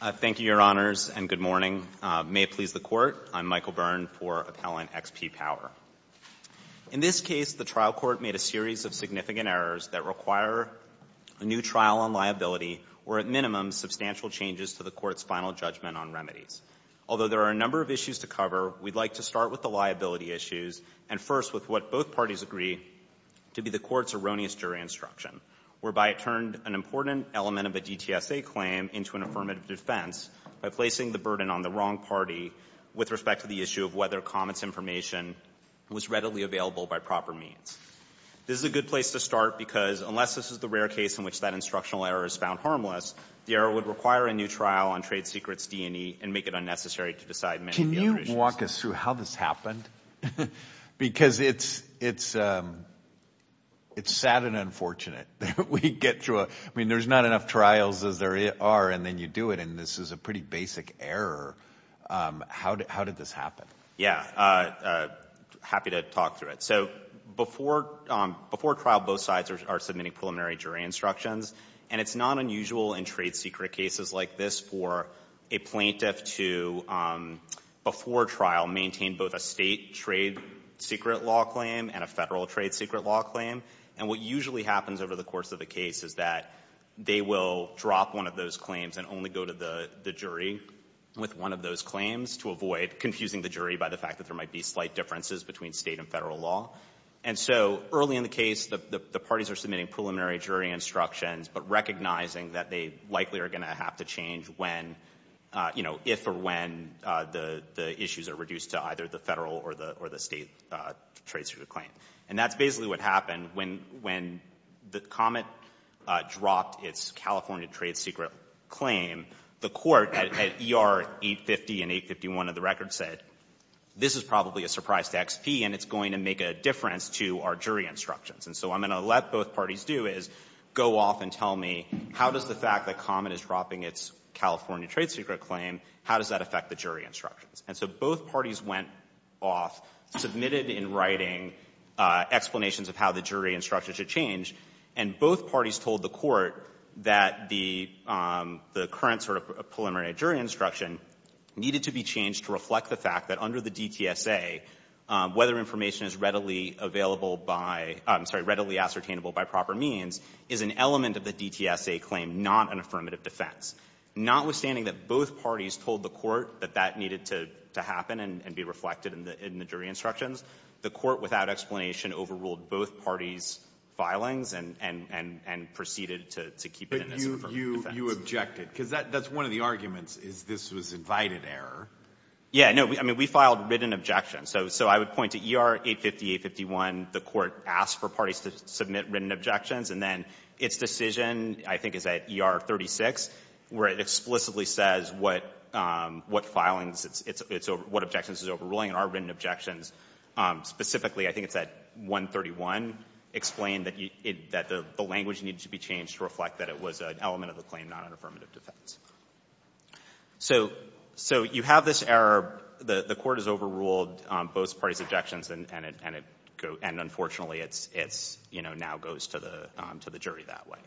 Thank you, Your Honors, and good morning. May it please the Court, I'm Michael Byrne for Appellant XP Power. In this case, the trial court made a series of significant errors that require a new trial on liability or, at minimum, substantial changes to the court's final judgment on remedies. Although there are a number of issues to cover, we'd like to start with the liability issues and first with what both parties agree to be the court's instruction, whereby it turned an important element of a DTSA claim into an affirmative defense by placing the burden on the wrong party with respect to the issue of whether Comet's information was readily available by proper means. This is a good place to start because unless this is the rare case in which that instructional error is found harmless, the error would require a new trial on Trade Secrets D&E and make it unnecessary to decide many of the other issues. Can you walk us through how this happened? Because it's sad and unfortunate that we get through it. I mean, there's not enough trials as there are, and then you do it, and this is a pretty basic error. How did this happen? Yeah. Happy to talk through it. So before trial, both sides are submitting preliminary jury instructions, and it's not unusual in trade secret cases like this for a plaintiff to, before trial, maintain both a state trade secret law claim and a federal trade secret law claim. And what usually happens over the course of the case is that they will drop one of those claims and only go to the jury with one of those claims to avoid confusing the jury by the fact that there might be slight differences between state and federal law. And so early in the case, the parties are submitting preliminary jury instructions, but recognizing that they likely are going to have to change when, you know, if or when the issues are reduced to either the federal or the state trade secret claim. And that's basically what happened. When the comment dropped its California trade secret claim, the Court at ER 850 and 851 of the record said, this is probably a surprise to XP, and it's going to make a difference to our jury instructions. And so what I'm going to let both parties do is go off and tell me, how does the fact that Common is dropping its California trade secret claim, how does that affect the jury instructions? And so both parties went off, submitted in writing explanations of how the jury instructions should change, and both parties told the Court that the current sort of preliminary jury instruction needed to be changed to reflect the fact that under the DTSA, whether information is readily available by — I'm sorry, readily ascertainable by proper means is an element of the DTSA claim, not an affirmative defense. Notwithstanding that both parties told the Court that that needed to happen and be reflected in the jury instructions, the Court, without explanation, overruled both parties' filings and proceeded to keep it as an affirmative defense. Breyer. But you objected, because that's one of the arguments, is this was invited error. Yeah. No. I mean, we filed written objections. So I would point to E.R. 850, 851. The Court asked for parties to submit written objections, and then its decision, I think, is at E.R. 36, where it explicitly says what filings it's — what objections it's overruling. And our written objections, specifically, I think it's at 131, explain that the language needed to be changed to reflect that it was an element of the claim, not an affirmative defense. So you have this error. The Court has overruled both parties' objections, and it — and unfortunately, it's — you know, now goes to the jury that way.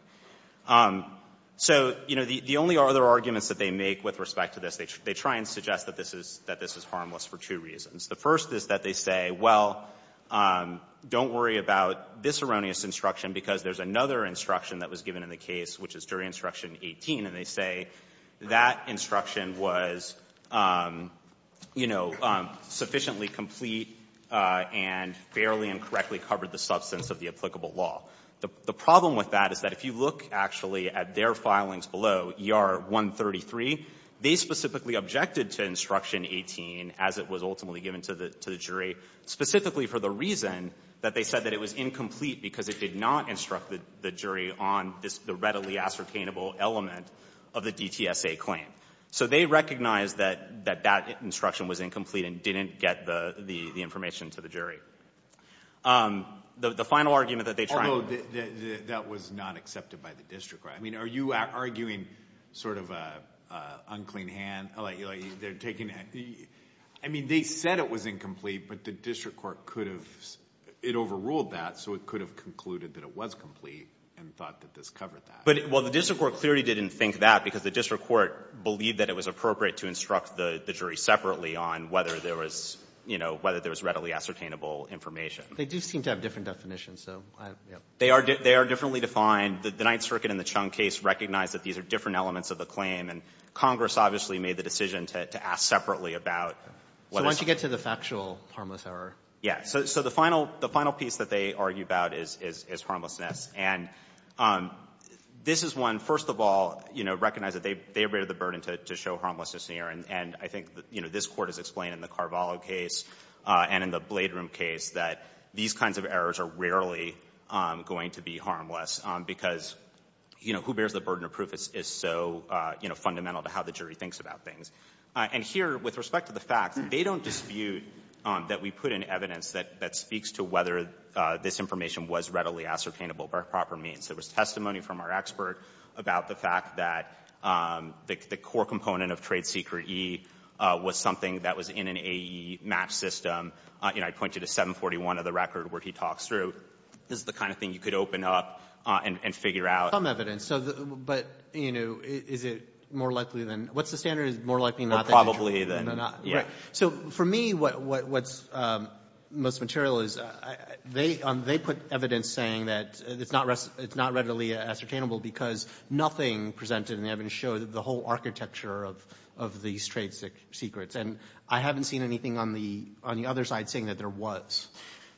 So, you know, the only other arguments that they make with respect to this, they try and suggest that this is — that this is harmless for two reasons. The first is that they say, well, don't worry about this erroneous instruction, because there's another instruction that was That instruction was, you know, sufficiently complete and fairly and correctly covered the substance of the applicable law. The problem with that is that if you look actually at their filings below, E.R. 133, they specifically objected to Instruction 18 as it was ultimately given to the jury, specifically for the reason that they said that it was incomplete because it did not instruct the jury on the readily ascertainable element of the DTSA claim. So they recognized that — that that instruction was incomplete and didn't get the information to the jury. The final argument that they tried — Although that was not accepted by the district court. I mean, are you arguing sort of an unclean hand, like they're taking — I mean, they said it was incomplete, but the district court could have — it overruled that, so it could have concluded that it was complete and thought that this covered that. But — well, the district court clearly didn't think that, because the district court believed that it was appropriate to instruct the jury separately on whether there was, you know, whether there was readily ascertainable information. They do seem to have different definitions, so I — yeah. They are — they are differently defined. The Ninth Circuit in the Chung case recognized that these are different elements of the claim, and Congress obviously made the decision to ask separately about whether this — So why don't you get to the factual harmless error? Yeah. So the final — the final piece that they argue about is — is harmlessness. And this is one, first of all, you know, recognize that they — they abated the burden to show harmlessness here, and I think, you know, this Court has explained in the Carvalho case and in the Blade Room case that these kinds of errors are rarely going to be harmless, because, you know, who bears the burden of proof is so, you know, fundamental to how the jury thinks about things. And here, with respect to the facts, they don't dispute that we put in evidence that — that speaks to whether this information was readily ascertainable by proper means. There was testimony from our expert about the fact that the core component of Trade Secret E was something that was in an AE match system. You know, I pointed to 741 of the record where he talks through. This is the kind of thing you could open up and figure out. There's some evidence, so — but, you know, is it more likely than — what's the standard? Is it more likely than not that — Well, probably than not. Right. So for me, what's — most material is — they put evidence saying that it's not — it's not readily ascertainable because nothing presented in the evidence shows the whole architecture of these trade secrets. And I haven't seen anything on the — on the other side saying that there was.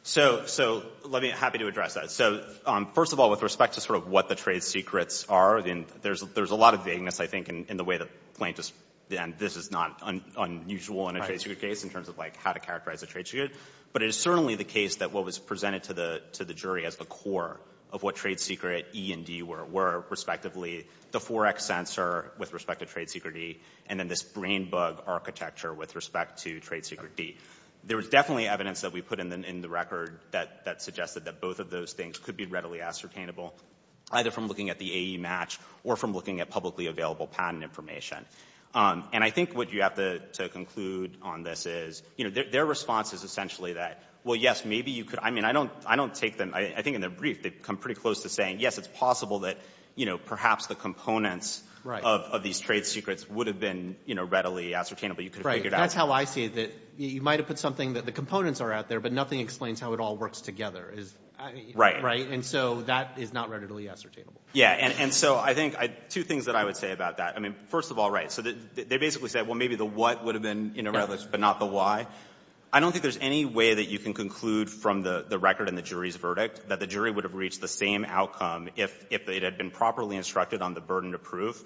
So — so let me — happy to address that. So first of all, with respect to sort of what the trade secrets are, there's a lot of vagueness, I think, in the way that Plaintiff's — and this is not unusual in a trade secret case in terms of, like, how to characterize a trade secret. But it is certainly the case that what was presented to the jury as the core of what Trade Secret E and D were, were respectively the 4X sensor with respect to Trade Secret E and then this brain bug architecture with respect to Trade Secret D. There was definitely evidence that we put in the — in the record that — that suggested that both of those things could be readily ascertainable, either from looking at the AE match or from looking at publicly available patent information. And I think what you have to conclude on this is, you know, their response is essentially that, well, yes, maybe you could — I mean, I don't — I don't take them — I think in their brief, they come pretty close to saying, yes, it's possible that, you know, perhaps the components —— of these trade secrets would have been, you know, readily ascertainable. But you could have figured out — Right. That's how I see it, that you might have put something that the components are out there, but nothing explains how it all works together. Right. Right? And so that is not readily ascertainable. Yeah. And so I think two things that I would say about that. I mean, first of all, right, so they basically said, well, maybe the what would have been in a red list but not the why. I don't think there's any way that you can conclude from the record and the jury's verdict that the jury would have reached the same outcome if it had been properly instructed on the burden of proof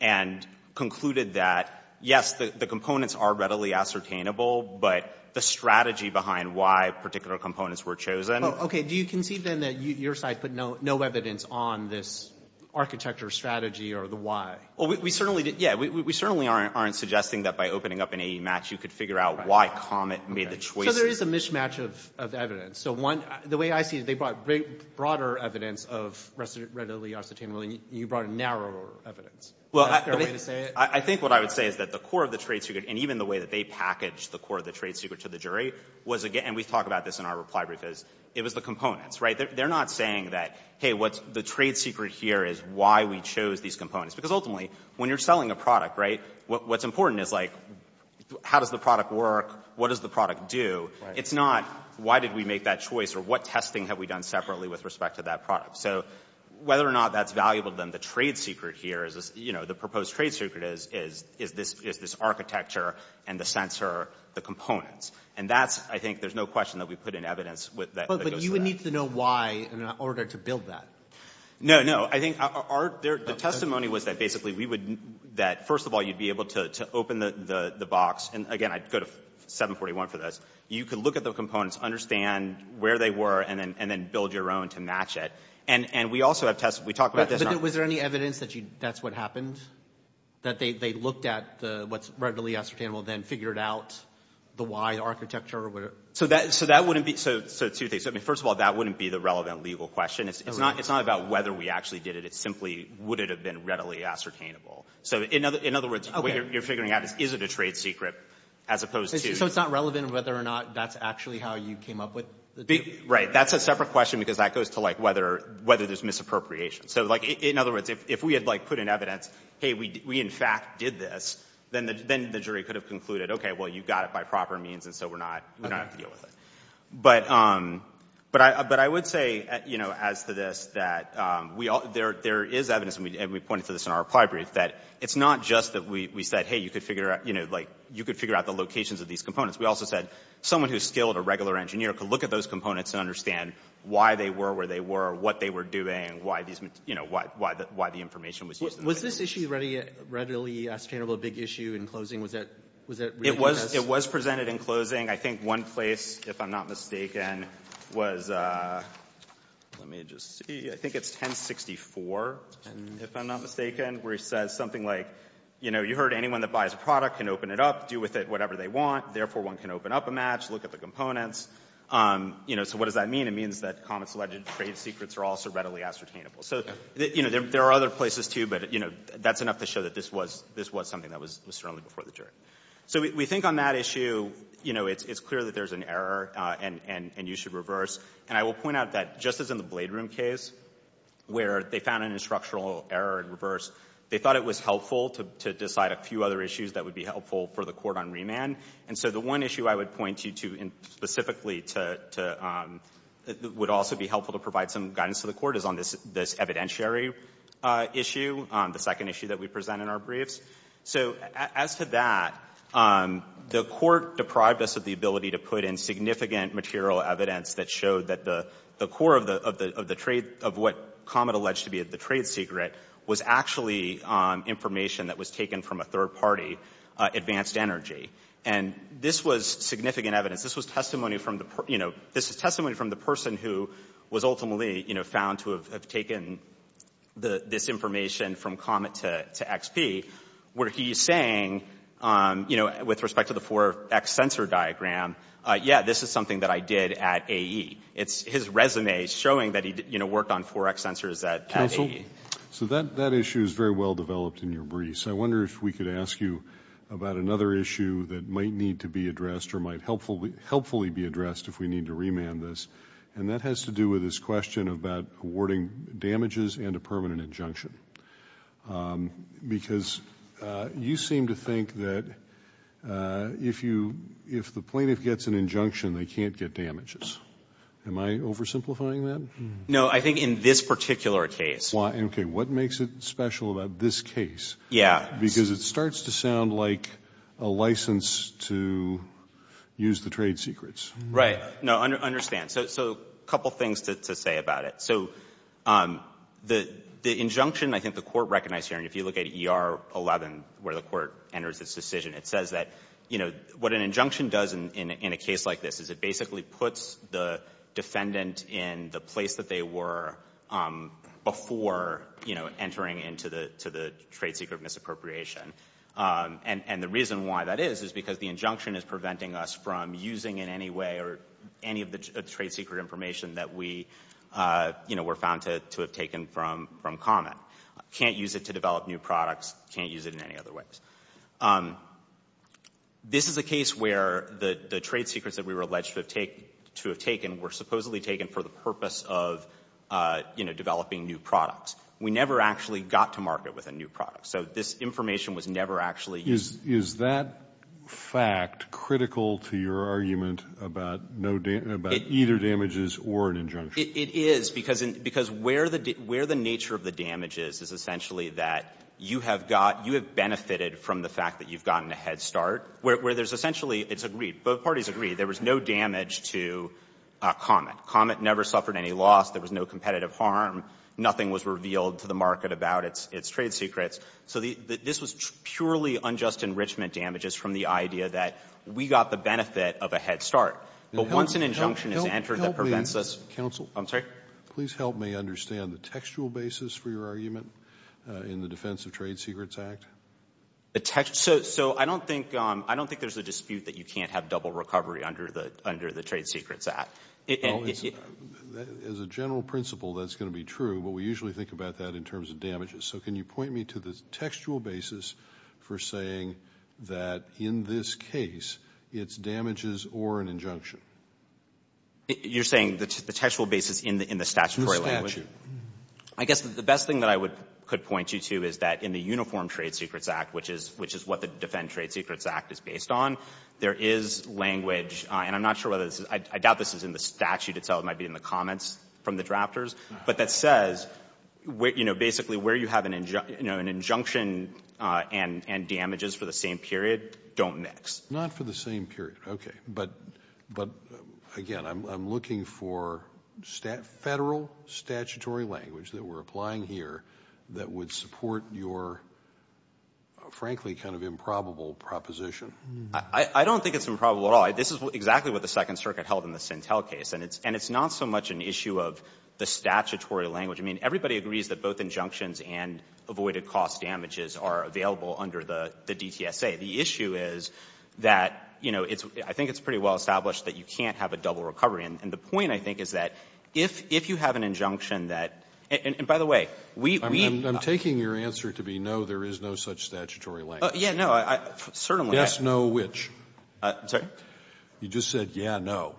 and concluded that, yes, the components are readily ascertainable, but the strategy behind why particular components were chosen — Okay. Do you concede, then, that your side put no evidence on this architecture strategy or the why? Well, we certainly didn't — yeah, we certainly aren't suggesting that by opening up an AE match, you could figure out why Comet made the choice — So there is a mismatch of evidence. So one — the way I see it, they brought broader evidence of readily ascertainable, and you brought narrower evidence. Is that a fair way to say it? I think what I would say is that the core of the trade secret and even the way that they packaged the core of the trade secret to the jury was again — and we talk about this in our reply brief — is it was the components, right? They're not saying that, hey, what's the trade secret here is why we chose these components. Because ultimately, when you're selling a product, right, what's important is, like, how does the product work, what does the product do. It's not why did we make that choice or what testing have we done separately with respect to that product. So whether or not that's valuable to them, the trade secret here is, you know, the proposed trade secret is this architecture and the sensor, the components. And that's — I think there's no question that we put in evidence that goes to that. But you would need to know why in order to build that. No, no. I think our — the testimony was that basically we would — that first of all, you'd be able to open the box. And again, I'd go to 741 for this. You could look at the components, understand where they were, and then build your own to match it. And we also have tests. We talked about this. But was there any evidence that that's what happened, that they looked at what's readily ascertainable, then figured out the why architecture? So that wouldn't be — so two things. I mean, first of all, that wouldn't be the relevant legal question. It's not about whether we actually did it. It's simply would it have been readily ascertainable. So in other words, what you're figuring out is, is it a trade secret as opposed to — So it's not relevant whether or not that's actually how you came up with — Right. That's a separate question because that goes to, like, whether there's misappropriation. So, like, in other words, if we had, like, put in evidence, hey, we in fact did this, then the jury could have concluded, okay, well, you got it by proper means, and so we're not — we don't have to deal with it. But I would say, you know, as to this, that there is evidence, and we pointed to this in our reply brief, that it's not just that we said, hey, you could figure out — you know, like, you could figure out the locations of these components. We also said someone who's skilled, a regular engineer, could look at those components and understand why they were where they were, what they were doing, why these — you know, why the information was used. Was this issue readily ascertainable a big issue in closing? Was that — It was presented in closing. I think one place, if I'm not mistaken, was — let me just see. I think it's 1064, if I'm not mistaken, where he says something like, you know, you heard anyone that buys a product can open it up, do with it whatever they want. Therefore, one can open up a match, look at the components. You know, so what does that mean? It means that Comet's alleged trade secrets are also readily ascertainable. So, you know, there are other places, too, but, you know, that's enough to show that this was something that was certainly before the jury. So we think on that issue, you know, it's clear that there's an error and you should reverse. And I will point out that just as in the Blade Room case, where they found an instructional error in reverse, they thought it was helpful to decide a few other issues that would be helpful for the court on remand. And so the one issue I would point you to specifically would also be helpful to provide some guidance to the court is on this evidentiary issue, the second issue that we present in our briefs. So as to that, the court deprived us of the ability to put in significant material evidence that showed that the core of the trade — of what Comet alleged to be the trade secret was actually information that was taken from a third party, Advanced Energy. And this was significant evidence. This was testimony from the — you know, this is testimony from the person who was ultimately, you know, found to have taken this information from Comet to XP, where he is saying, you know, with respect to the 4X sensor diagram, yeah, this is something that I did at AE. It's his resume showing that he, you know, worked on 4X sensors at AE. So that issue is very well developed in your briefs. I wonder if we could ask you about another issue that might need to be addressed or might helpfully be addressed if we need to remand this. And that has to do with this question about awarding damages and a permanent injunction, because you seem to think that if you — if the plaintiff gets an injunction, they can't get damages. Am I oversimplifying that? No, I think in this particular case. Okay. What makes it special about this case? Yeah. Because it starts to sound like a license to use the trade secrets. Right. No, I understand. So a couple things to say about it. So the injunction, I think the court recognized here, and if you look at ER 11 where the court enters this decision, it says that, you know, what an injunction does in a case like this is it basically puts the defendant in the place that they were before, you know, entering into the trade secret misappropriation. And the reason why that is is because the injunction is preventing us from using in any way or any of the trade secret information that we, you know, were found to have taken from Comet. Can't use it to develop new products. Can't use it in any other ways. This is a case where the trade secrets that we were alleged to have taken were supposedly taken for the purpose of, you know, developing new products. We never actually got to market with a new product. So this information was never actually used. Is that fact critical to your argument about no damage, about either damages or an injunction? It is, because where the nature of the damage is is essentially that you have got you have benefited from the fact that you've gotten a head start, where there's essentially it's agreed. Both parties agreed there was no damage to Comet. Comet never suffered any loss. There was no competitive harm. Nothing was revealed to the market about its trade secrets. So this was purely unjust enrichment damages from the idea that we got the benefit of a head start. But once an injunction is entered that prevents us to counsel, I'm sorry. Please help me understand the textual basis for your argument in the defense of trade secrets act? So I don't think there's a dispute that you can't have double recovery under the trade secrets act. As a general principle, that's going to be true, but we usually think about that in terms of damages. So can you point me to the textual basis for saying that in this case it's damages or an You're saying the textual basis in the statutory language? The statute. I guess the best thing that I could point you to is that in the uniform trade secrets act, which is what the defend trade secrets act is based on, there is language, and I'm not sure whether this is, I doubt this is in the statute itself. It might be in the comments from the drafters. But that says basically where you have an injunction and damages for the same period don't mix. Not for the same period. Okay. But, again, I'm looking for Federal statutory language that we're applying here that would support your, frankly, kind of improbable proposition. I don't think it's improbable at all. This is exactly what the Second Circuit held in the Sintel case. And it's not so much an issue of the statutory language. I mean, everybody agrees that both injunctions and avoided cost damages are available under the DTSA. The issue is that, you know, it's, I think it's pretty well established that you can't have a double recovery. And the point, I think, is that if you have an injunction that, and, by the way, we, we. I'm taking your answer to be no, there is no such statutory language. Yeah, no, I certainly. Yes, no, which? I'm sorry? You just said, yeah, no.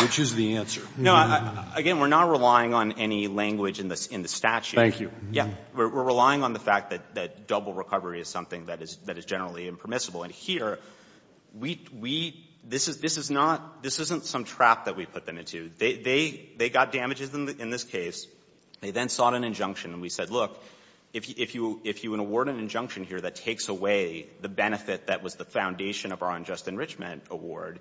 Which is the answer? No, again, we're not relying on any language in the statute. Thank you. Yeah. We're relying on the fact that double recovery is something that is generally impermissible. And here, we, we, this is, this is not, this isn't some trap that we put them into. They, they, they got damages in this case. They then sought an injunction, and we said, look, if you, if you, if you award an injunction here that takes away the benefit that was the foundation of our unjust enrichment award,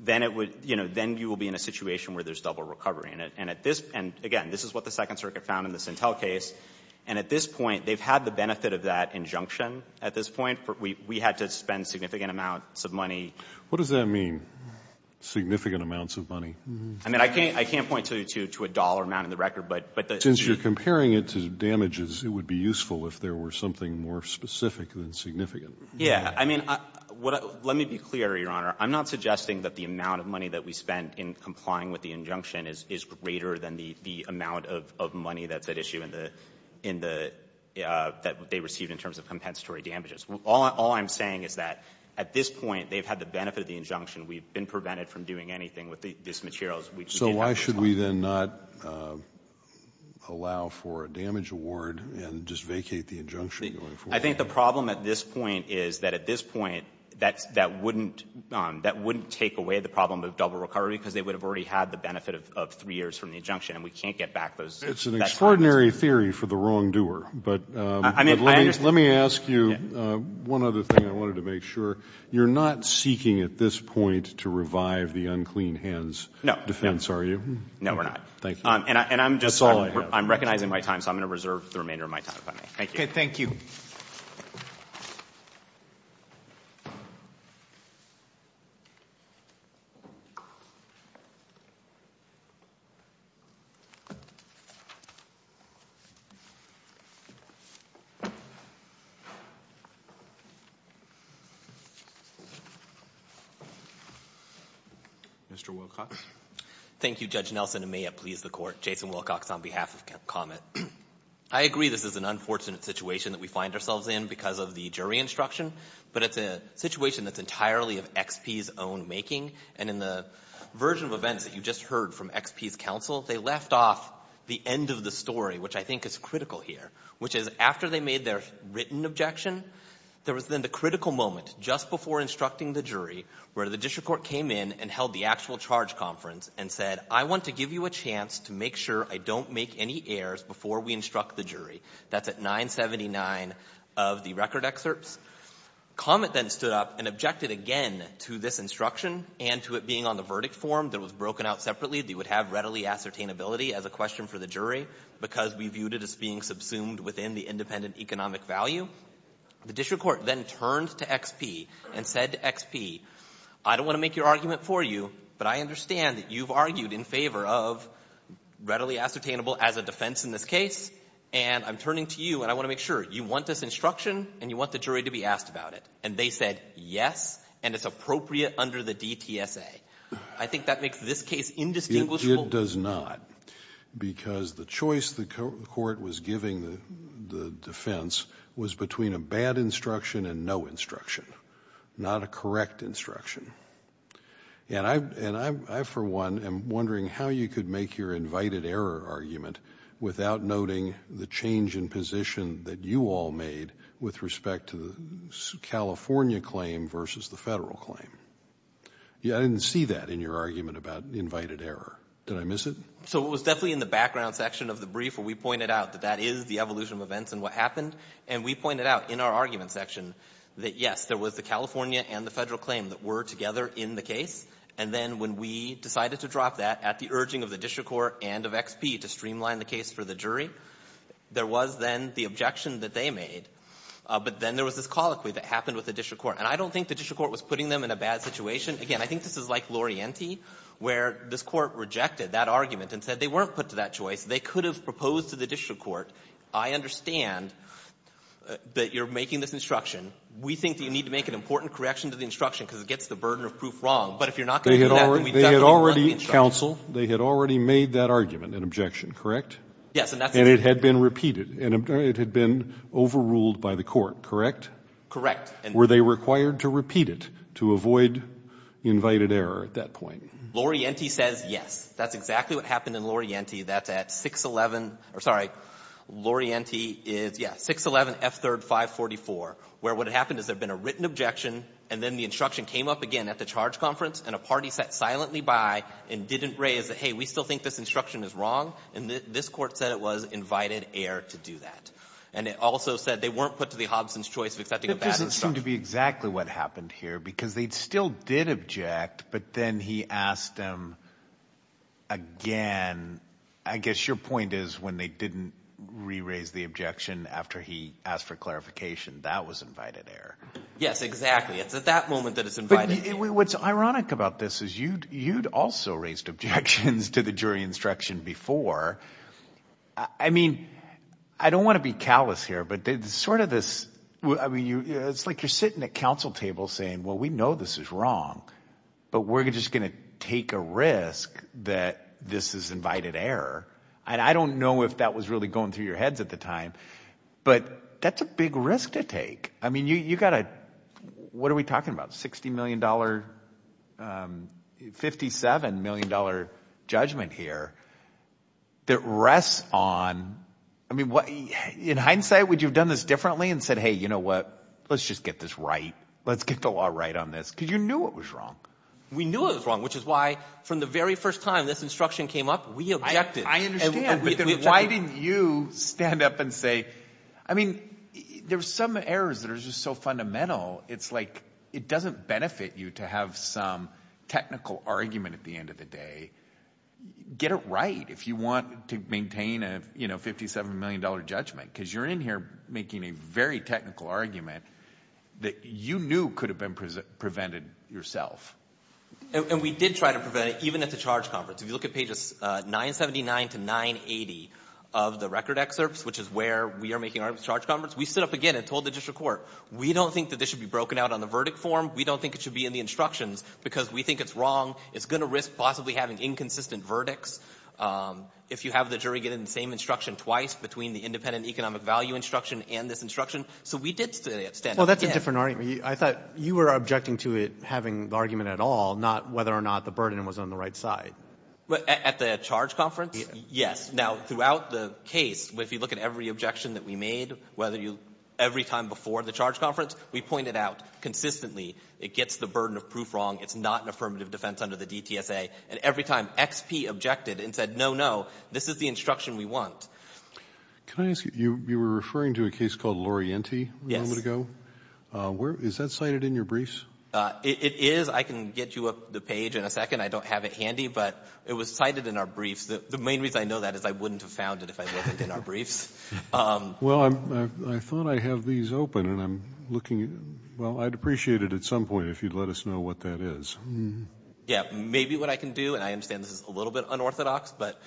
then it would, you know, then you will be in a situation where there's double recovery. And at this, and again, this is what the Second Circuit found in the Sintel case. And at this point, they've had the benefit of that injunction at this point. We, we had to spend significant amounts of money. What does that mean, significant amounts of money? I mean, I can't, I can't point to, to, to a dollar amount in the record, but, but the. Since you're comparing it to damages, it would be useful if there were something more specific than significant. Yeah. I mean, what, let me be clear, Your Honor. I'm not suggesting that the amount of money that we spent in complying with the injunction is, is greater than the, the amount of, of money that's at issue in the, in the, that they received in terms of compensatory damages. All, all I'm saying is that at this point, they've had the benefit of the injunction. We've been prevented from doing anything with the, these materials. So why should we then not allow for a damage award and just vacate the injunction going forward? I think the problem at this point is that at this point, that's, that wouldn't, that wouldn't take away the problem of double recovery because they would have already had the benefit of, of three years from the injunction and we can't get back those, those damages. It's an extraordinary theory for the wrongdoer. But, but let me, let me ask you one other thing I wanted to make sure. You're not seeking at this point to revive the unclean hands defense, are you? No, we're not. Thank you. That's all I have. And I'm just, I'm recognizing my time, so I'm going to reserve the remainder of my time if I may. Thank you. Okay, thank you. Mr. Wilcox. Thank you, Judge Nelson, and may it please the Court. Jason Wilcox on behalf of Comet. I agree this is an unfortunate situation that we find ourselves in because of the jury instruction, but it's a situation that's entirely of XP's own making. And in the version of events that you just heard from XP's counsel, they left off the end of the story, which I think is critical here, which is after they made their written objection, there was then the critical moment just before instructing the jury where the district court came in and held the actual charge conference and said, I want to give you a chance to make sure I don't make any errors before we instruct the jury. That's at 979 of the record excerpts. Comet then stood up and objected again to this instruction and to it being on the verdict form that was broken out separately. They would have readily ascertainability as a question for the jury because we viewed it as being subsumed within the independent economic value. The district court then turned to XP and said to XP, I don't want to make your argument for you, but I understand that you've argued in favor of readily ascertainable as a defense in this case, and I'm turning to you, and I want to make sure you want this instruction and you want the jury to be asked about it. And they said, yes, and it's appropriate under the DTSA. I think that makes this case indistinguishable. It does not, because the choice the court was giving the defense was between a bad instruction and no instruction, not a correct instruction. And I, for one, am wondering how you could make your invited error argument without noting the change in position that you all made with respect to the California claim versus the Federal claim. I didn't see that in your argument about invited error. Did I miss it? So it was definitely in the background section of the brief where we pointed out that that is the evolution of events and what happened. And we pointed out in our argument section that, yes, there was the California and the Federal claim that were together in the case. And then when we decided to drop that at the urging of the district court and of XP to streamline the case for the jury, there was then the objection that they made. But then there was this colloquy that happened with the district court. And I don't think the district court was putting them in a bad situation. Again, I think this is like Lorienti, where this court rejected that argument and said they weren't put to that choice. They could have proposed to the district court, I understand that you're making this instruction. We think that you need to make an important correction to the instruction because it gets the burden of proof wrong. But if you're not going to do that, then we definitely don't want the instruction. They had already made that argument an objection, correct? Yes. And it had been repeated. And it had been overruled by the court, correct? Correct. Were they required to repeat it to avoid invited error at that point? Lorienti says yes. That's exactly what happened in Lorienti. That's at 611 or, sorry, Lorienti is, yes, 611 F3rd 544, where what had happened is there had been a written objection, and then the instruction came up again and a party sat silently by and didn't raise, hey, we still think this instruction is wrong, and this court said it was invited error to do that. And it also said they weren't put to the Hobson's choice of accepting a bad instruction. It doesn't seem to be exactly what happened here because they still did object, but then he asked them again. I guess your point is when they didn't re-raise the objection after he asked for clarification, that was invited error. Yes, exactly. It's at that moment that it's invited error. What's ironic about this is you'd also raised objections to the jury instruction before. I mean, I don't want to be callous here, but it's sort of this, I mean, it's like you're sitting at council tables saying, well, we know this is wrong, but we're just going to take a risk that this is invited error. And I don't know if that was really going through your heads at the time, but that's a big risk to take. I mean, you've got a, what are we talking about, $60 million, $57 million judgment here that rests on, I mean, in hindsight, would you have done this differently and said, hey, you know what, let's just get this right. Let's get the law right on this because you knew it was wrong. We knew it was wrong, which is why from the very first time this instruction came up, we objected. I understand, but then why didn't you stand up and say, I mean, there's some errors that are just so fundamental. It's like it doesn't benefit you to have some technical argument at the end of the day. Get it right if you want to maintain a $57 million judgment because you're in here making a very technical argument that you knew could have been prevented yourself. And we did try to prevent it even at the charge conference. If you look at pages 979 to 980 of the record excerpts, which is where we are making our charge conference, we stood up again and told the district court, we don't think that this should be broken out on the verdict form. We don't think it should be in the instructions because we think it's wrong. It's going to risk possibly having inconsistent verdicts if you have the jury get in the same instruction twice between the independent economic value instruction and this instruction. So we did stand up. Well, that's a different argument. I thought you were objecting to it having argument at all, not whether or not the burden was on the right side. At the charge conference? Yes. Now, throughout the case, if you look at every objection that we made, every time before the charge conference, we pointed out consistently it gets the burden of proof wrong. It's not an affirmative defense under the DTSA. And every time XP objected and said, no, no, this is the instruction we want. Can I ask you, you were referring to a case called Lorienti a moment ago. Is that cited in your briefs? It is. I can get you the page in a second. I don't have it handy. But it was cited in our briefs. The main reason I know that is I wouldn't have found it if I wasn't in our briefs. Well, I thought I have these open, and I'm looking at them. Well, I'd appreciate it at some point if you'd let us know what that is. Yeah. Maybe what I can do, and I understand this is a little bit unorthodox, but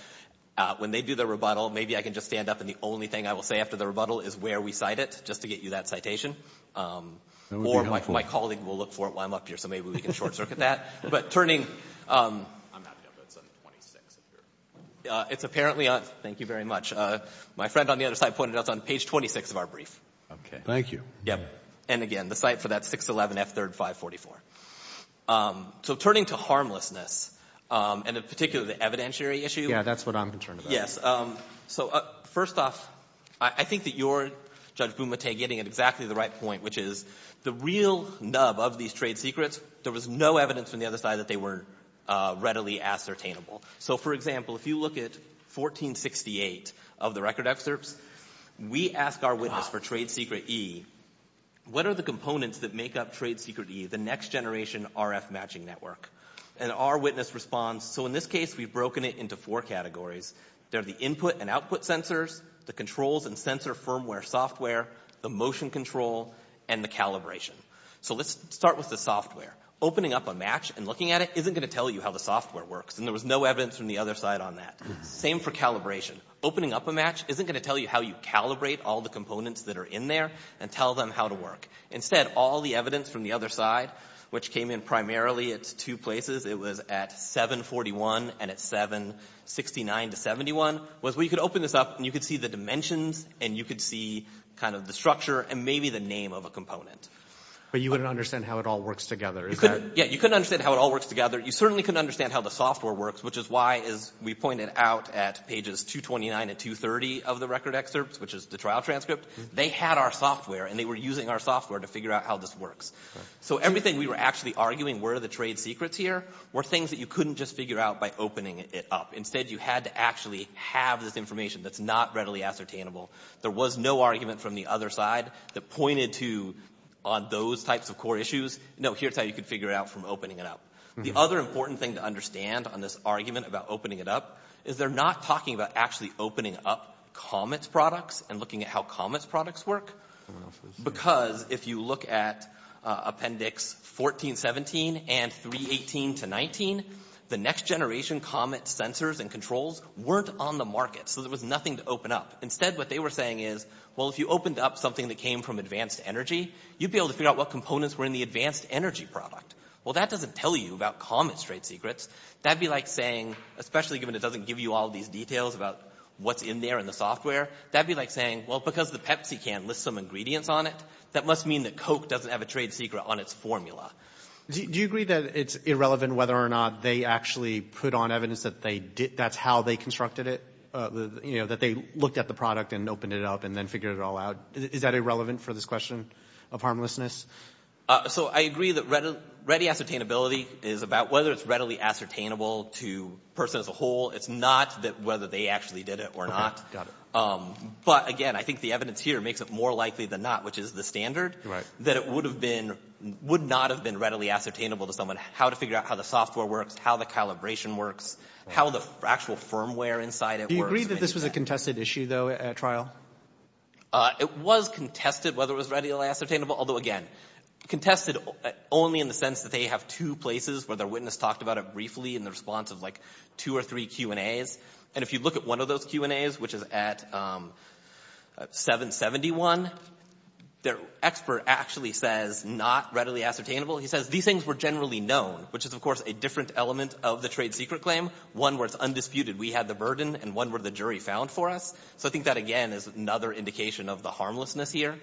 when they do their rebuttal, maybe I can just stand up, and the only thing I will say after the rebuttal is where we cite it, just to get you that citation. That would be helpful. Or my colleague will look for it while I'm up here, so maybe we can short-circuit that. But turning to harmlessness, and in particular the evidentiary issue. Yeah, that's what I'm concerned about. Yes. So first off, I think that you're, Judge Bumate, getting at exactly the right point, which is the real nub of these trade secrets, there was no evidence from the other side that they were readily ascertainable. So, for example, if you look at 1468 of the record excerpts, we ask our witness for trade secret E, what are the components that make up trade secret E, the next generation RF matching network? And our witness responds, so in this case we've broken it into four categories. They're the input and output sensors, the controls and sensor firmware software, the motion control, and the calibration. So let's start with the software. Opening up a match and looking at it isn't going to tell you how the software works, and there was no evidence from the other side on that. Same for calibration. Opening up a match isn't going to tell you how you calibrate all the components that are in there and tell them how to work. Instead, all the evidence from the other side, which came in primarily at two places, it was at 741 and at 769-71, was we could open this up and you could see the dimensions, and you could see kind of the structure and maybe the name of a component. But you wouldn't understand how it all works together. Yeah, you couldn't understand how it all works together. You certainly couldn't understand how the software works, which is why, as we pointed out at pages 229 and 230 of the record excerpts, which is the trial transcript, they had our software, and they were using our software to figure out how this works. So everything we were actually arguing were the trade secrets here were things that you couldn't just figure out by opening it up. Instead, you had to actually have this information that's not readily ascertainable. There was no argument from the other side that pointed to those types of core issues. No, here's how you could figure it out from opening it up. The other important thing to understand on this argument about opening it up is they're not talking about actually opening up Comet's products and looking at how Comet's products work, because if you look at Appendix 1417 and 318-19, the next-generation Comet sensors and controls weren't on the market, so there was nothing to open up. Instead, what they were saying is, well, if you opened up something that came from advanced energy, you'd be able to figure out what components were in the advanced energy product. Well, that doesn't tell you about Comet's trade secrets. That'd be like saying, especially given it doesn't give you all these details about what's in there in the software, that'd be like saying, well, because the Pepsi can lists some ingredients on it, that must mean that Coke doesn't have a trade secret on its formula. Do you agree that it's irrelevant whether or not they actually put on evidence that that's how they constructed it, that they looked at the product and opened it up and then figured it all out? Is that irrelevant for this question of harmlessness? So I agree that ready ascertainability is about whether it's readily ascertainable to the person as a whole. It's not whether they actually did it or not. But again, I think the evidence here makes it more likely than not, which is the standard, that it would not have been readily ascertainable to someone how to figure out how the software works, how the calibration works, how the actual firmware inside it works. Do you agree that this was a contested issue, though, at trial? It was contested whether it was readily ascertainable, although, again, contested only in the sense that they have two places where their witness talked about it briefly in the response of like two or three Q&As. And if you look at one of those Q&As, which is at 771, their expert actually says not readily ascertainable. He says these things were generally known, which is, of course, a different element of the trade secret claim, one where it's undisputed we had the burden and one where the jury found for us. So I think that, again, is another indication of the harmlessness here,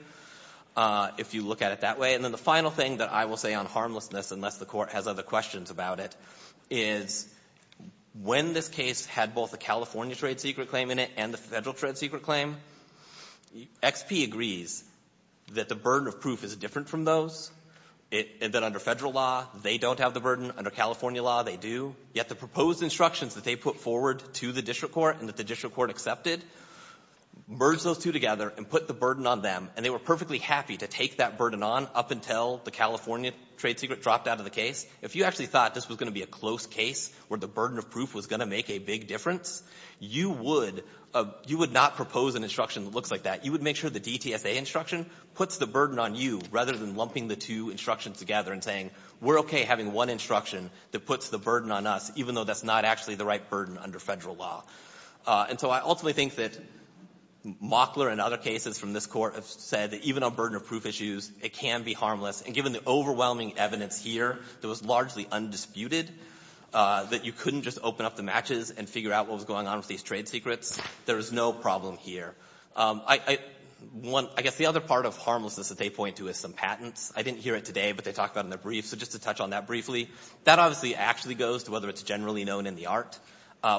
if you look at it that way. And then the final thing that I will say on harmlessness, unless the Court has other questions about it, is when this case had both the California trade secret claim in it and the federal trade secret claim, XP agrees that the burden of proof is different from those, that under federal law they don't have the burden, under California law they do, yet the proposed instructions that they put forward to the district court and that the district court accepted, merged those two together and put the burden on them, and they were perfectly happy to take that burden on up until the California trade secret dropped out of the case. If you actually thought this was going to be a close case where the burden of proof was going to make a big difference, you would not propose an instruction that looks like that. You would make sure the DTSA instruction puts the burden on you rather than lumping the two instructions together and saying, we're okay having one instruction that puts the burden on us, even though that's not actually the right burden under federal law. And so I ultimately think that Mockler and other cases from this Court have said that even on burden of proof issues, it can be harmless. And given the overwhelming evidence here, that was largely undisputed, that you couldn't just open up the matches and figure out what was going on with these trade secrets, there is no problem here. I guess the other part of harmlessness that they point to is some patents. I didn't hear it today, but they talk about it in their brief, so just to touch on that briefly. That obviously actually goes to whether it's generally known in the art,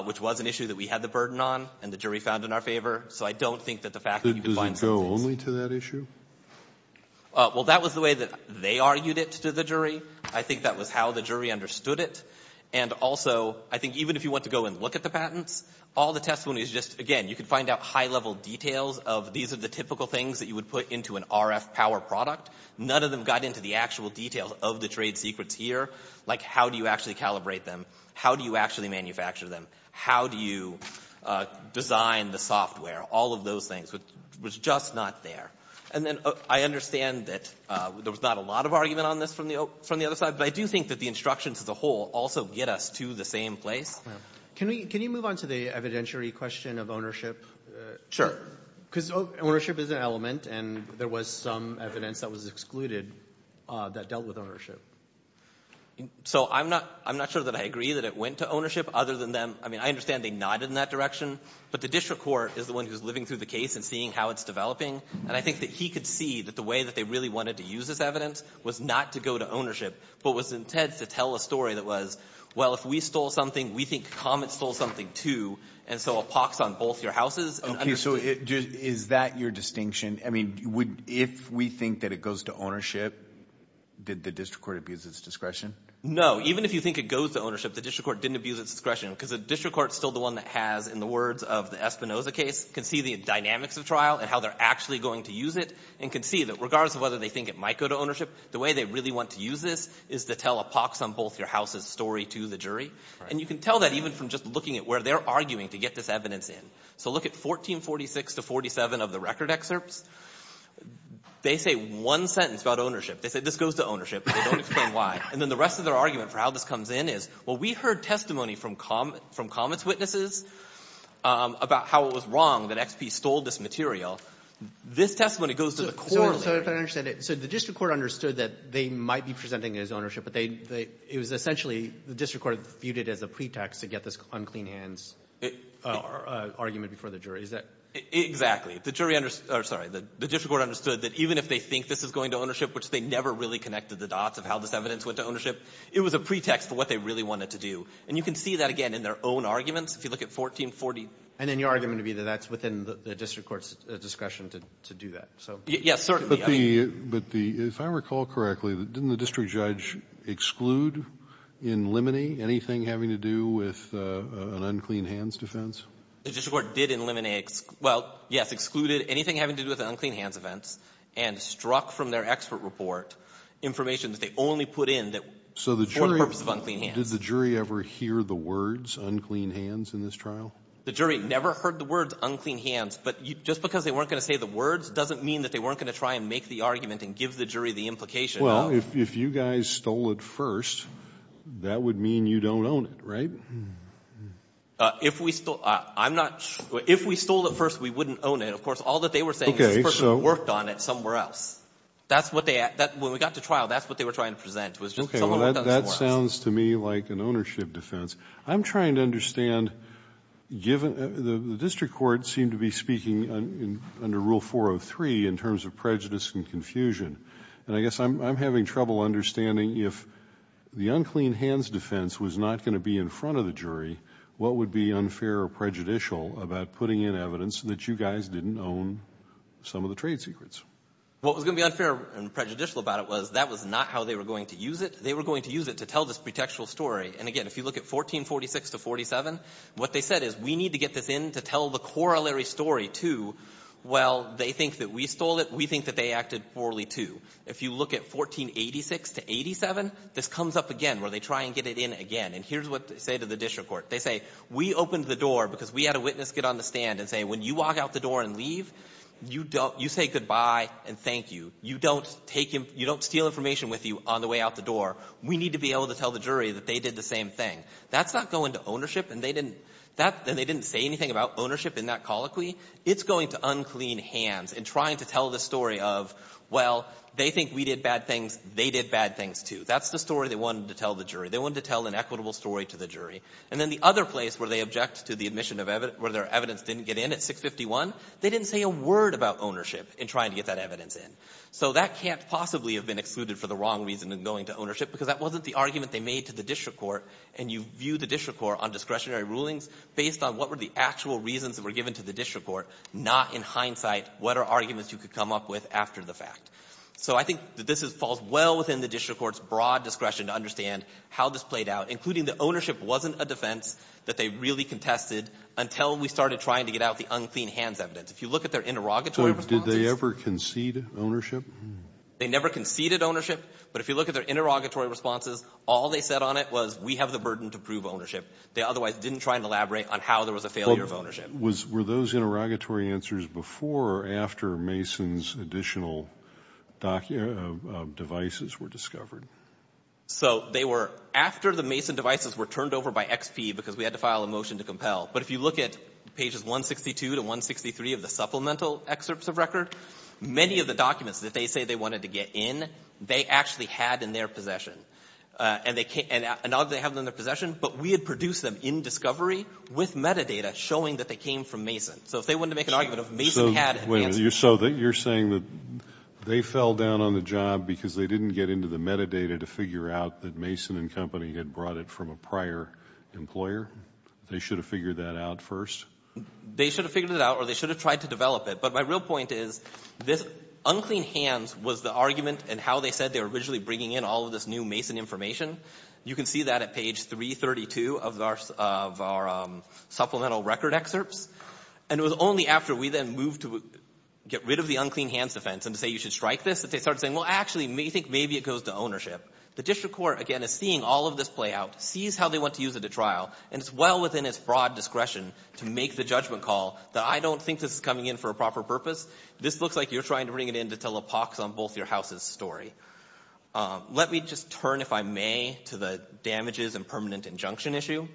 which was an issue that we had the burden on and the jury found in our favor. So I don't think that the fact that you could find some cases... Doesn't it go only to that issue? Well, that was the way that they argued it to the jury. I think that was how the jury understood it. And also, I think even if you want to go and look at the patents, all the testimony is just, again, you could find out high-level details of these are the typical things that you would put into an RF power product. None of them got into the actual details of the trade secrets here, like how do you actually calibrate them, how do you actually manufacture them, how do you design the software, all of those things. It was just not there. And then I understand that there was not a lot of argument on this from the other side, but I do think that the instructions as a whole also get us to the same place. Can we move on to the evidentiary question of ownership? Sure. Because ownership is an element, and there was some evidence that was excluded that dealt with ownership. So I'm not sure that I agree that it went to ownership other than them. I mean, I understand they nodded in that direction, but the district court is the one who's living through the case and seeing how it's developing, and I think that he could see that the way that they really wanted to use this evidence was not to go to ownership but was intent to tell a story that was, well, if we stole something, we think Comet stole something too, and so a pox on both your houses. Okay, so is that your distinction? I mean, if we think that it goes to ownership, did the district court abuse its discretion? No. Even if you think it goes to ownership, the district court didn't abuse its discretion because the district court is still the one that has, in the words of the Espinoza case, can see the dynamics of trial and how they're actually going to use it and can see that regardless of whether they think it might go to ownership, the way they really want to use this is to tell a pox on both your houses story to the jury. And you can tell that even from just looking at where they're arguing to get this evidence in. So look at 1446 to 1447 of the record excerpts. They say one sentence about ownership. They say this goes to ownership, but they don't explain why. And then the rest of their argument for how this comes in is, well, we heard testimony from comments witnesses about how it was wrong that XP stole this material. This testimony goes to the court. So if I understand it, so the district court understood that they might be presenting it as ownership, but they — it was essentially the district court viewed it as a pretext to get this unclean hands argument before the jury. Is that — Exactly. The jury — or, sorry, the district court understood that even if they think this is going to ownership, which they never really connected the dots of how this evidence went to ownership, it was a pretext for what they really wanted to do. And you can see that, again, in their own arguments. If you look at 1440 — And then your argument would be that that's within the district court's discretion to do that. So — Yes, certainly. But the — if I recall correctly, didn't the district judge exclude, eliminate anything having to do with an unclean hands defense? The district court did eliminate — well, yes, excluded anything having to do with unclean hands events and struck from their expert report information that they only put in for the purpose of unclean hands. So the jury — did the jury ever hear the words unclean hands in this trial? The jury never heard the words unclean hands. But just because they weren't going to say the words doesn't mean that they weren't going to try and make the argument and give the jury the implication of — Well, if you guys stole it first, that would mean you don't own it, right? If we stole — I'm not — if we stole it first, we wouldn't own it. Of course, all that they were saying is this person worked on it somewhere else. That's what they — when we got to trial, that's what they were trying to present, was just — Okay, well, that sounds to me like an ownership defense. I'm trying to understand, given — the district court seemed to be speaking under Rule 403 in terms of prejudice and confusion. And I guess I'm having trouble understanding if the unclean hands defense was not going to be in front of the jury, what would be unfair or prejudicial about putting in evidence that you guys didn't own some of the trade secrets? What was going to be unfair and prejudicial about it was that was not how they were going to use it. They were going to use it to tell this pretextual story. And again, if you look at 1446 to 47, what they said is we need to get this in to tell the corollary story, too. Well, they think that we stole it. We think that they acted poorly, too. If you look at 1486 to 87, this comes up again where they try and get it in again. And here's what they say to the district court. They say we opened the door because we had a witness get on the stand and say when you walk out the door and leave, you say goodbye and thank you. You don't steal information with you on the way out the door. We need to be able to tell the jury that they did the same thing. That's not going to ownership, and they didn't say anything about ownership in that colloquy. It's going to unclean hands in trying to tell the story of, well, they think we did bad things. They did bad things, too. That's the story they wanted to tell the jury. They wanted to tell an equitable story to the jury. And then the other place where they object to the admission where their evidence didn't get in at 651, they didn't say a word about ownership in trying to get that evidence in. So that can't possibly have been excluded for the wrong reason in going to ownership, because that wasn't the argument they made to the district court. And you view the district court on discretionary rulings based on what were the actual reasons that were given to the district court, not in hindsight what are arguments you could come up with after the fact. So I think that this falls well within the district court's broad discretion to they really contested until we started trying to get out the unclean hands evidence. If you look at their interrogatory responses. So did they ever concede ownership? They never conceded ownership. But if you look at their interrogatory responses, all they said on it was, we have the burden to prove ownership. They otherwise didn't try and elaborate on how there was a failure of Were those interrogatory answers before or after Mason's additional devices were discovered? So they were after the Mason devices were turned over by XP because we had to file a motion to compel. But if you look at pages 162 to 163 of the supplemental excerpts of record, many of the documents that they say they wanted to get in, they actually had in their possession. And they can't and now they have them in their possession. But we had produced them in discovery with metadata showing that they came from Mason. So if they wanted to make an argument of Mason had advanced So you're saying that they fell down on the job because they didn't get into the data to figure out that Mason and company had brought it from a prior employer? They should have figured that out first? They should have figured it out or they should have tried to develop it. But my real point is this unclean hands was the argument and how they said they were originally bringing in all of this new Mason information. You can see that at page 332 of our supplemental record excerpts. And it was only after we then moved to get rid of the unclean hands defense and to say you should strike this that they started saying, well, actually, maybe it goes to ownership. The district court, again, is seeing all of this play out, sees how they want to use it at trial, and it's well within its broad discretion to make the judgment call that I don't think this is coming in for a proper purpose. This looks like you're trying to bring it in to tell a pox on both your houses story. Let me just turn, if I may, to the damages and permanent injunction issue.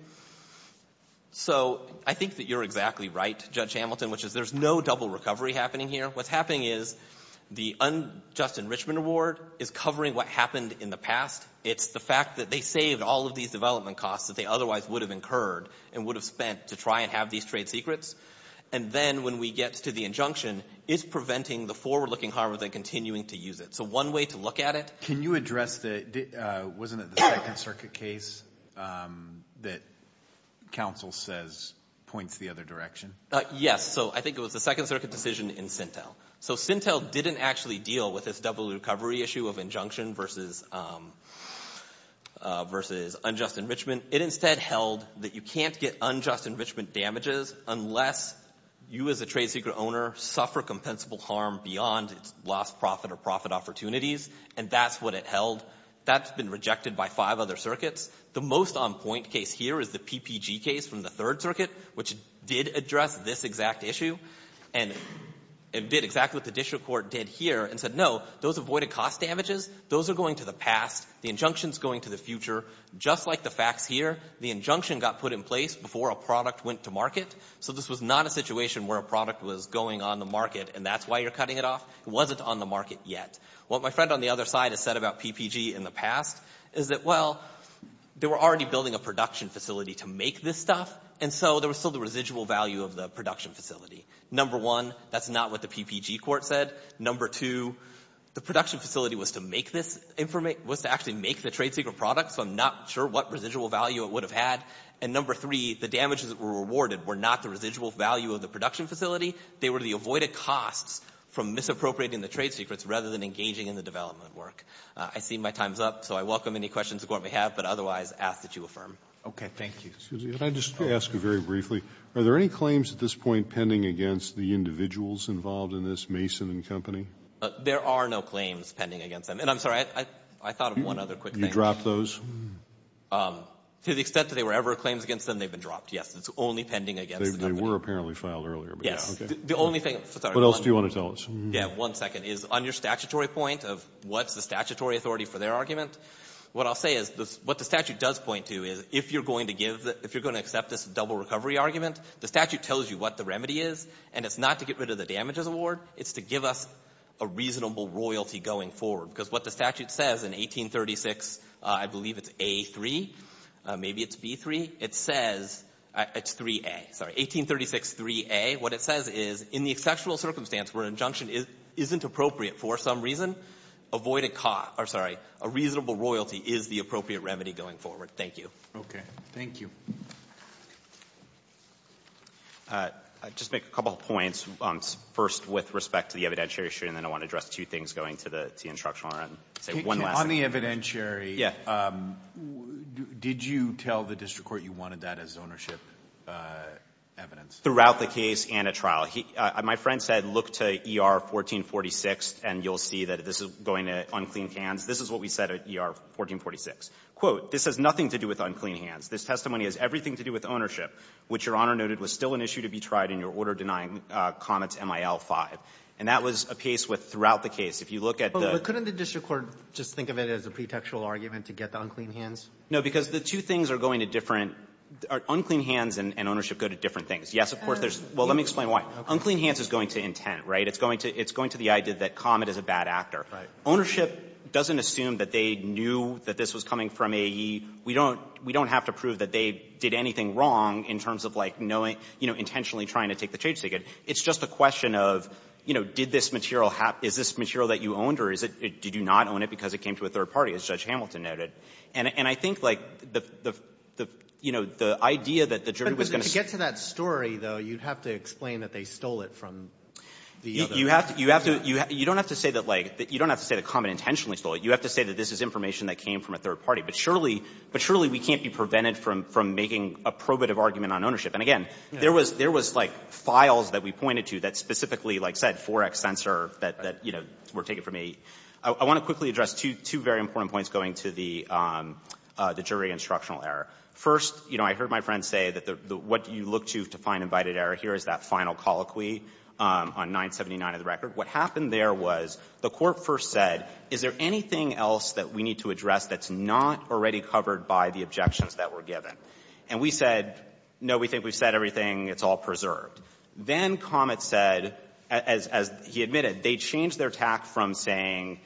So I think that you're exactly right, Judge Hamilton, which is there's no double recovery happening here. What's happening is the unjust enrichment award is covering what happened in the past. It's the fact that they saved all of these development costs that they otherwise would have incurred and would have spent to try and have these trade secrets. And then when we get to the injunction, it's preventing the forward-looking harm of them continuing to use it. So one way to look at it. Can you address the, wasn't it the Second Circuit case that counsel says points the other direction? Yes. So I think it was the Second Circuit decision in Sintel. So Sintel didn't actually deal with this double recovery issue of injunction versus unjust enrichment. It instead held that you can't get unjust enrichment damages unless you as a trade secret owner suffer compensable harm beyond its lost profit or profit opportunities, and that's what it held. That's been rejected by five other circuits. The most on-point case here is the PPG case from the Third Circuit, which did address this exact issue and did exactly what the district court did here and said, no, those avoided cost damages. Those are going to the past. The injunction's going to the future. Just like the facts here, the injunction got put in place before a product went to market, so this was not a situation where a product was going on the market and that's why you're cutting it off. It wasn't on the market yet. What my friend on the other side has said about PPG in the past is that, well, they were already building a production facility to make this stuff, and so there was still the residual value of the production facility. Number one, that's not what the PPG court said. Number two, the production facility was to make this information, was to actually make the trade secret product, so I'm not sure what residual value it would have had. And number three, the damages that were rewarded were not the residual value of the production facility. They were the avoided costs from misappropriating the trade secrets rather than engaging in the development work. I see my time's up, so I welcome any questions the Court may have, but otherwise ask that you affirm. Robertson, Jr. Yes, please. Are there any claims at this point pending against the individuals involved in this Mason & Company? There are no claims pending against them. And I'm sorry, I thought of one other quick thing. You dropped those? To the extent that there were ever claims against them, they've been dropped, yes. It's only pending against the company. They were apparently filed earlier. Yes. The only thing — What else do you want to tell us? Yes, one second. On your statutory point of what's the statutory authority for their argument, what I'll say is what the statute does point to is if you're going to give the — if you're going to give the argument, the statute tells you what the remedy is, and it's not to get rid of the damages award. It's to give us a reasonable royalty going forward. Because what the statute says in 1836, I believe it's A.3. Maybe it's B.3. It says — it's 3A. Sorry. 1836, 3A. What it says is in the exceptional circumstance where an injunction isn't appropriate for some reason, avoid a — or, sorry, a reasonable royalty is the appropriate remedy going forward. Thank you. Okay. Thank you. I'll just make a couple of points. First, with respect to the evidentiary issue, and then I want to address two things going to the instructional. I'll say one last thing. So on the evidentiary, did you tell the district court you wanted that as ownership evidence? Throughout the case and a trial. My friend said look to ER 1446, and you'll see that this is going to unclean hands. This is what we said at ER 1446. Quote, this has nothing to do with unclean hands. This testimony has everything to do with ownership, which Your Honor noted was still an issue to be tried in your order denying Comet's MIL-5. And that was a piece with throughout the case. If you look at the — But couldn't the district court just think of it as a pretextual argument to get the unclean hands? No, because the two things are going to different — unclean hands and ownership go to different things. Yes, of course, there's — well, let me explain why. Unclean hands is going to intent, right? It's going to the idea that Comet is a bad actor. Right. Ownership doesn't assume that they knew that this was coming from AE. We don't — we don't have to prove that they did anything wrong in terms of, like, knowing — you know, intentionally trying to take the change ticket. It's just a question of, you know, did this material have — is this material that you owned, or is it — did you not own it because it came to a third party, as Judge Hamilton noted? And I think, like, the — you know, the idea that the jury was going to — But to get to that story, though, you'd have to explain that they stole it from the other — You have to — you don't have to say that, like — you don't have to say that Comet intentionally stole it. You have to say that this is information that came from a third party. But surely — but surely we can't be prevented from — from making a probative argument on ownership. And again, there was — there was, like, files that we pointed to that specifically, like I said, 4X sensor that — that, you know, were taken from AE. I want to quickly address two — two very important points going to the — the jury instructional error. First, you know, I heard my friend say that the — what you look to to find invited error here is that final colloquy on 979 of the record. What happened there was the court first said, is there anything else that we need to address that's not already covered by the objections that were given? And we said, no, we think we've said everything. It's all preserved. Then Comet said, as — as he admitted, they changed their tack from saying,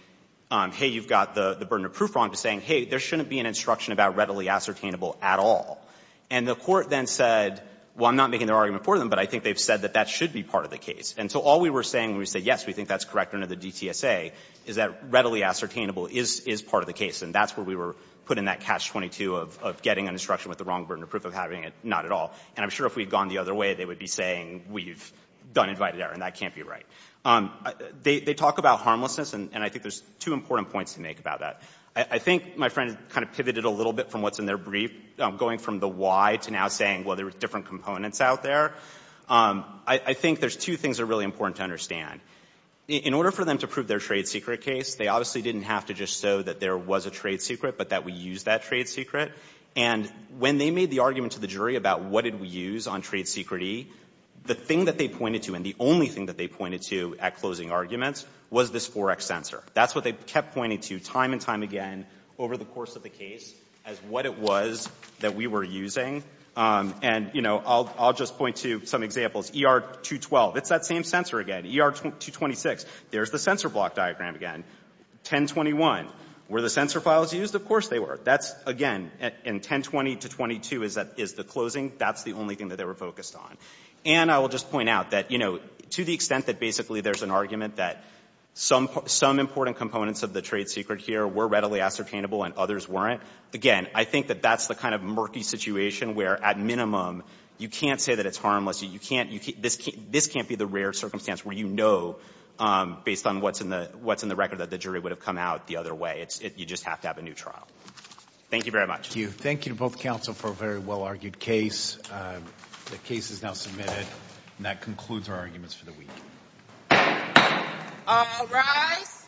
hey, you've got the — the burden of proof wrong to saying, hey, there shouldn't be an instruction about readily ascertainable at all. And the court then said, well, I'm not making the argument for them, but I think they've said that that should be part of the case. And so all we were saying when we said, yes, we think that's correct under the DTSA is that readily ascertainable is — is part of the case. And that's where we were putting that catch-22 of — of getting an instruction with the wrong burden of proof of having it, not at all. And I'm sure if we had gone the other way, they would be saying we've done invited error, and that can't be right. They — they talk about harmlessness, and — and I think there's two important points to make about that. I — I think my friend kind of pivoted a little bit from what's in their brief, going from the why to now saying, well, there are different components out there. I — I think there's two things that are really important to understand. In — in order for them to prove their trade secret case, they obviously didn't have to just show that there was a trade secret, but that we used that trade secret. And when they made the argument to the jury about what did we use on trade secret E, the thing that they pointed to, and the only thing that they pointed to at closing arguments, was this forex sensor. That's what they kept pointing to time and time again over the course of the case as what it was that we were using. And, you know, I'll — I'll just point to some examples. ER-212. It's that same sensor again. ER-226. There's the sensor block diagram again. 1021. Were the sensor files used? Of course they were. That's, again, in 1020 to 22 is that — is the closing. That's the only thing that they were focused on. And I will just point out that, you know, to the extent that basically there's an argument that some — some important components of the trade secret here were readily ascertainable and others weren't, again, I think that that's the kind of where, at minimum, you can't say that it's harmless. You can't — this can't be the rare circumstance where you know, based on what's in the — what's in the record, that the jury would have come out the other way. It's — you just have to have a new trial. Thank you very much. Thank you. Thank you to both counsel for a very well-argued case. The case is now submitted. And that concludes our arguments for the week. All rise.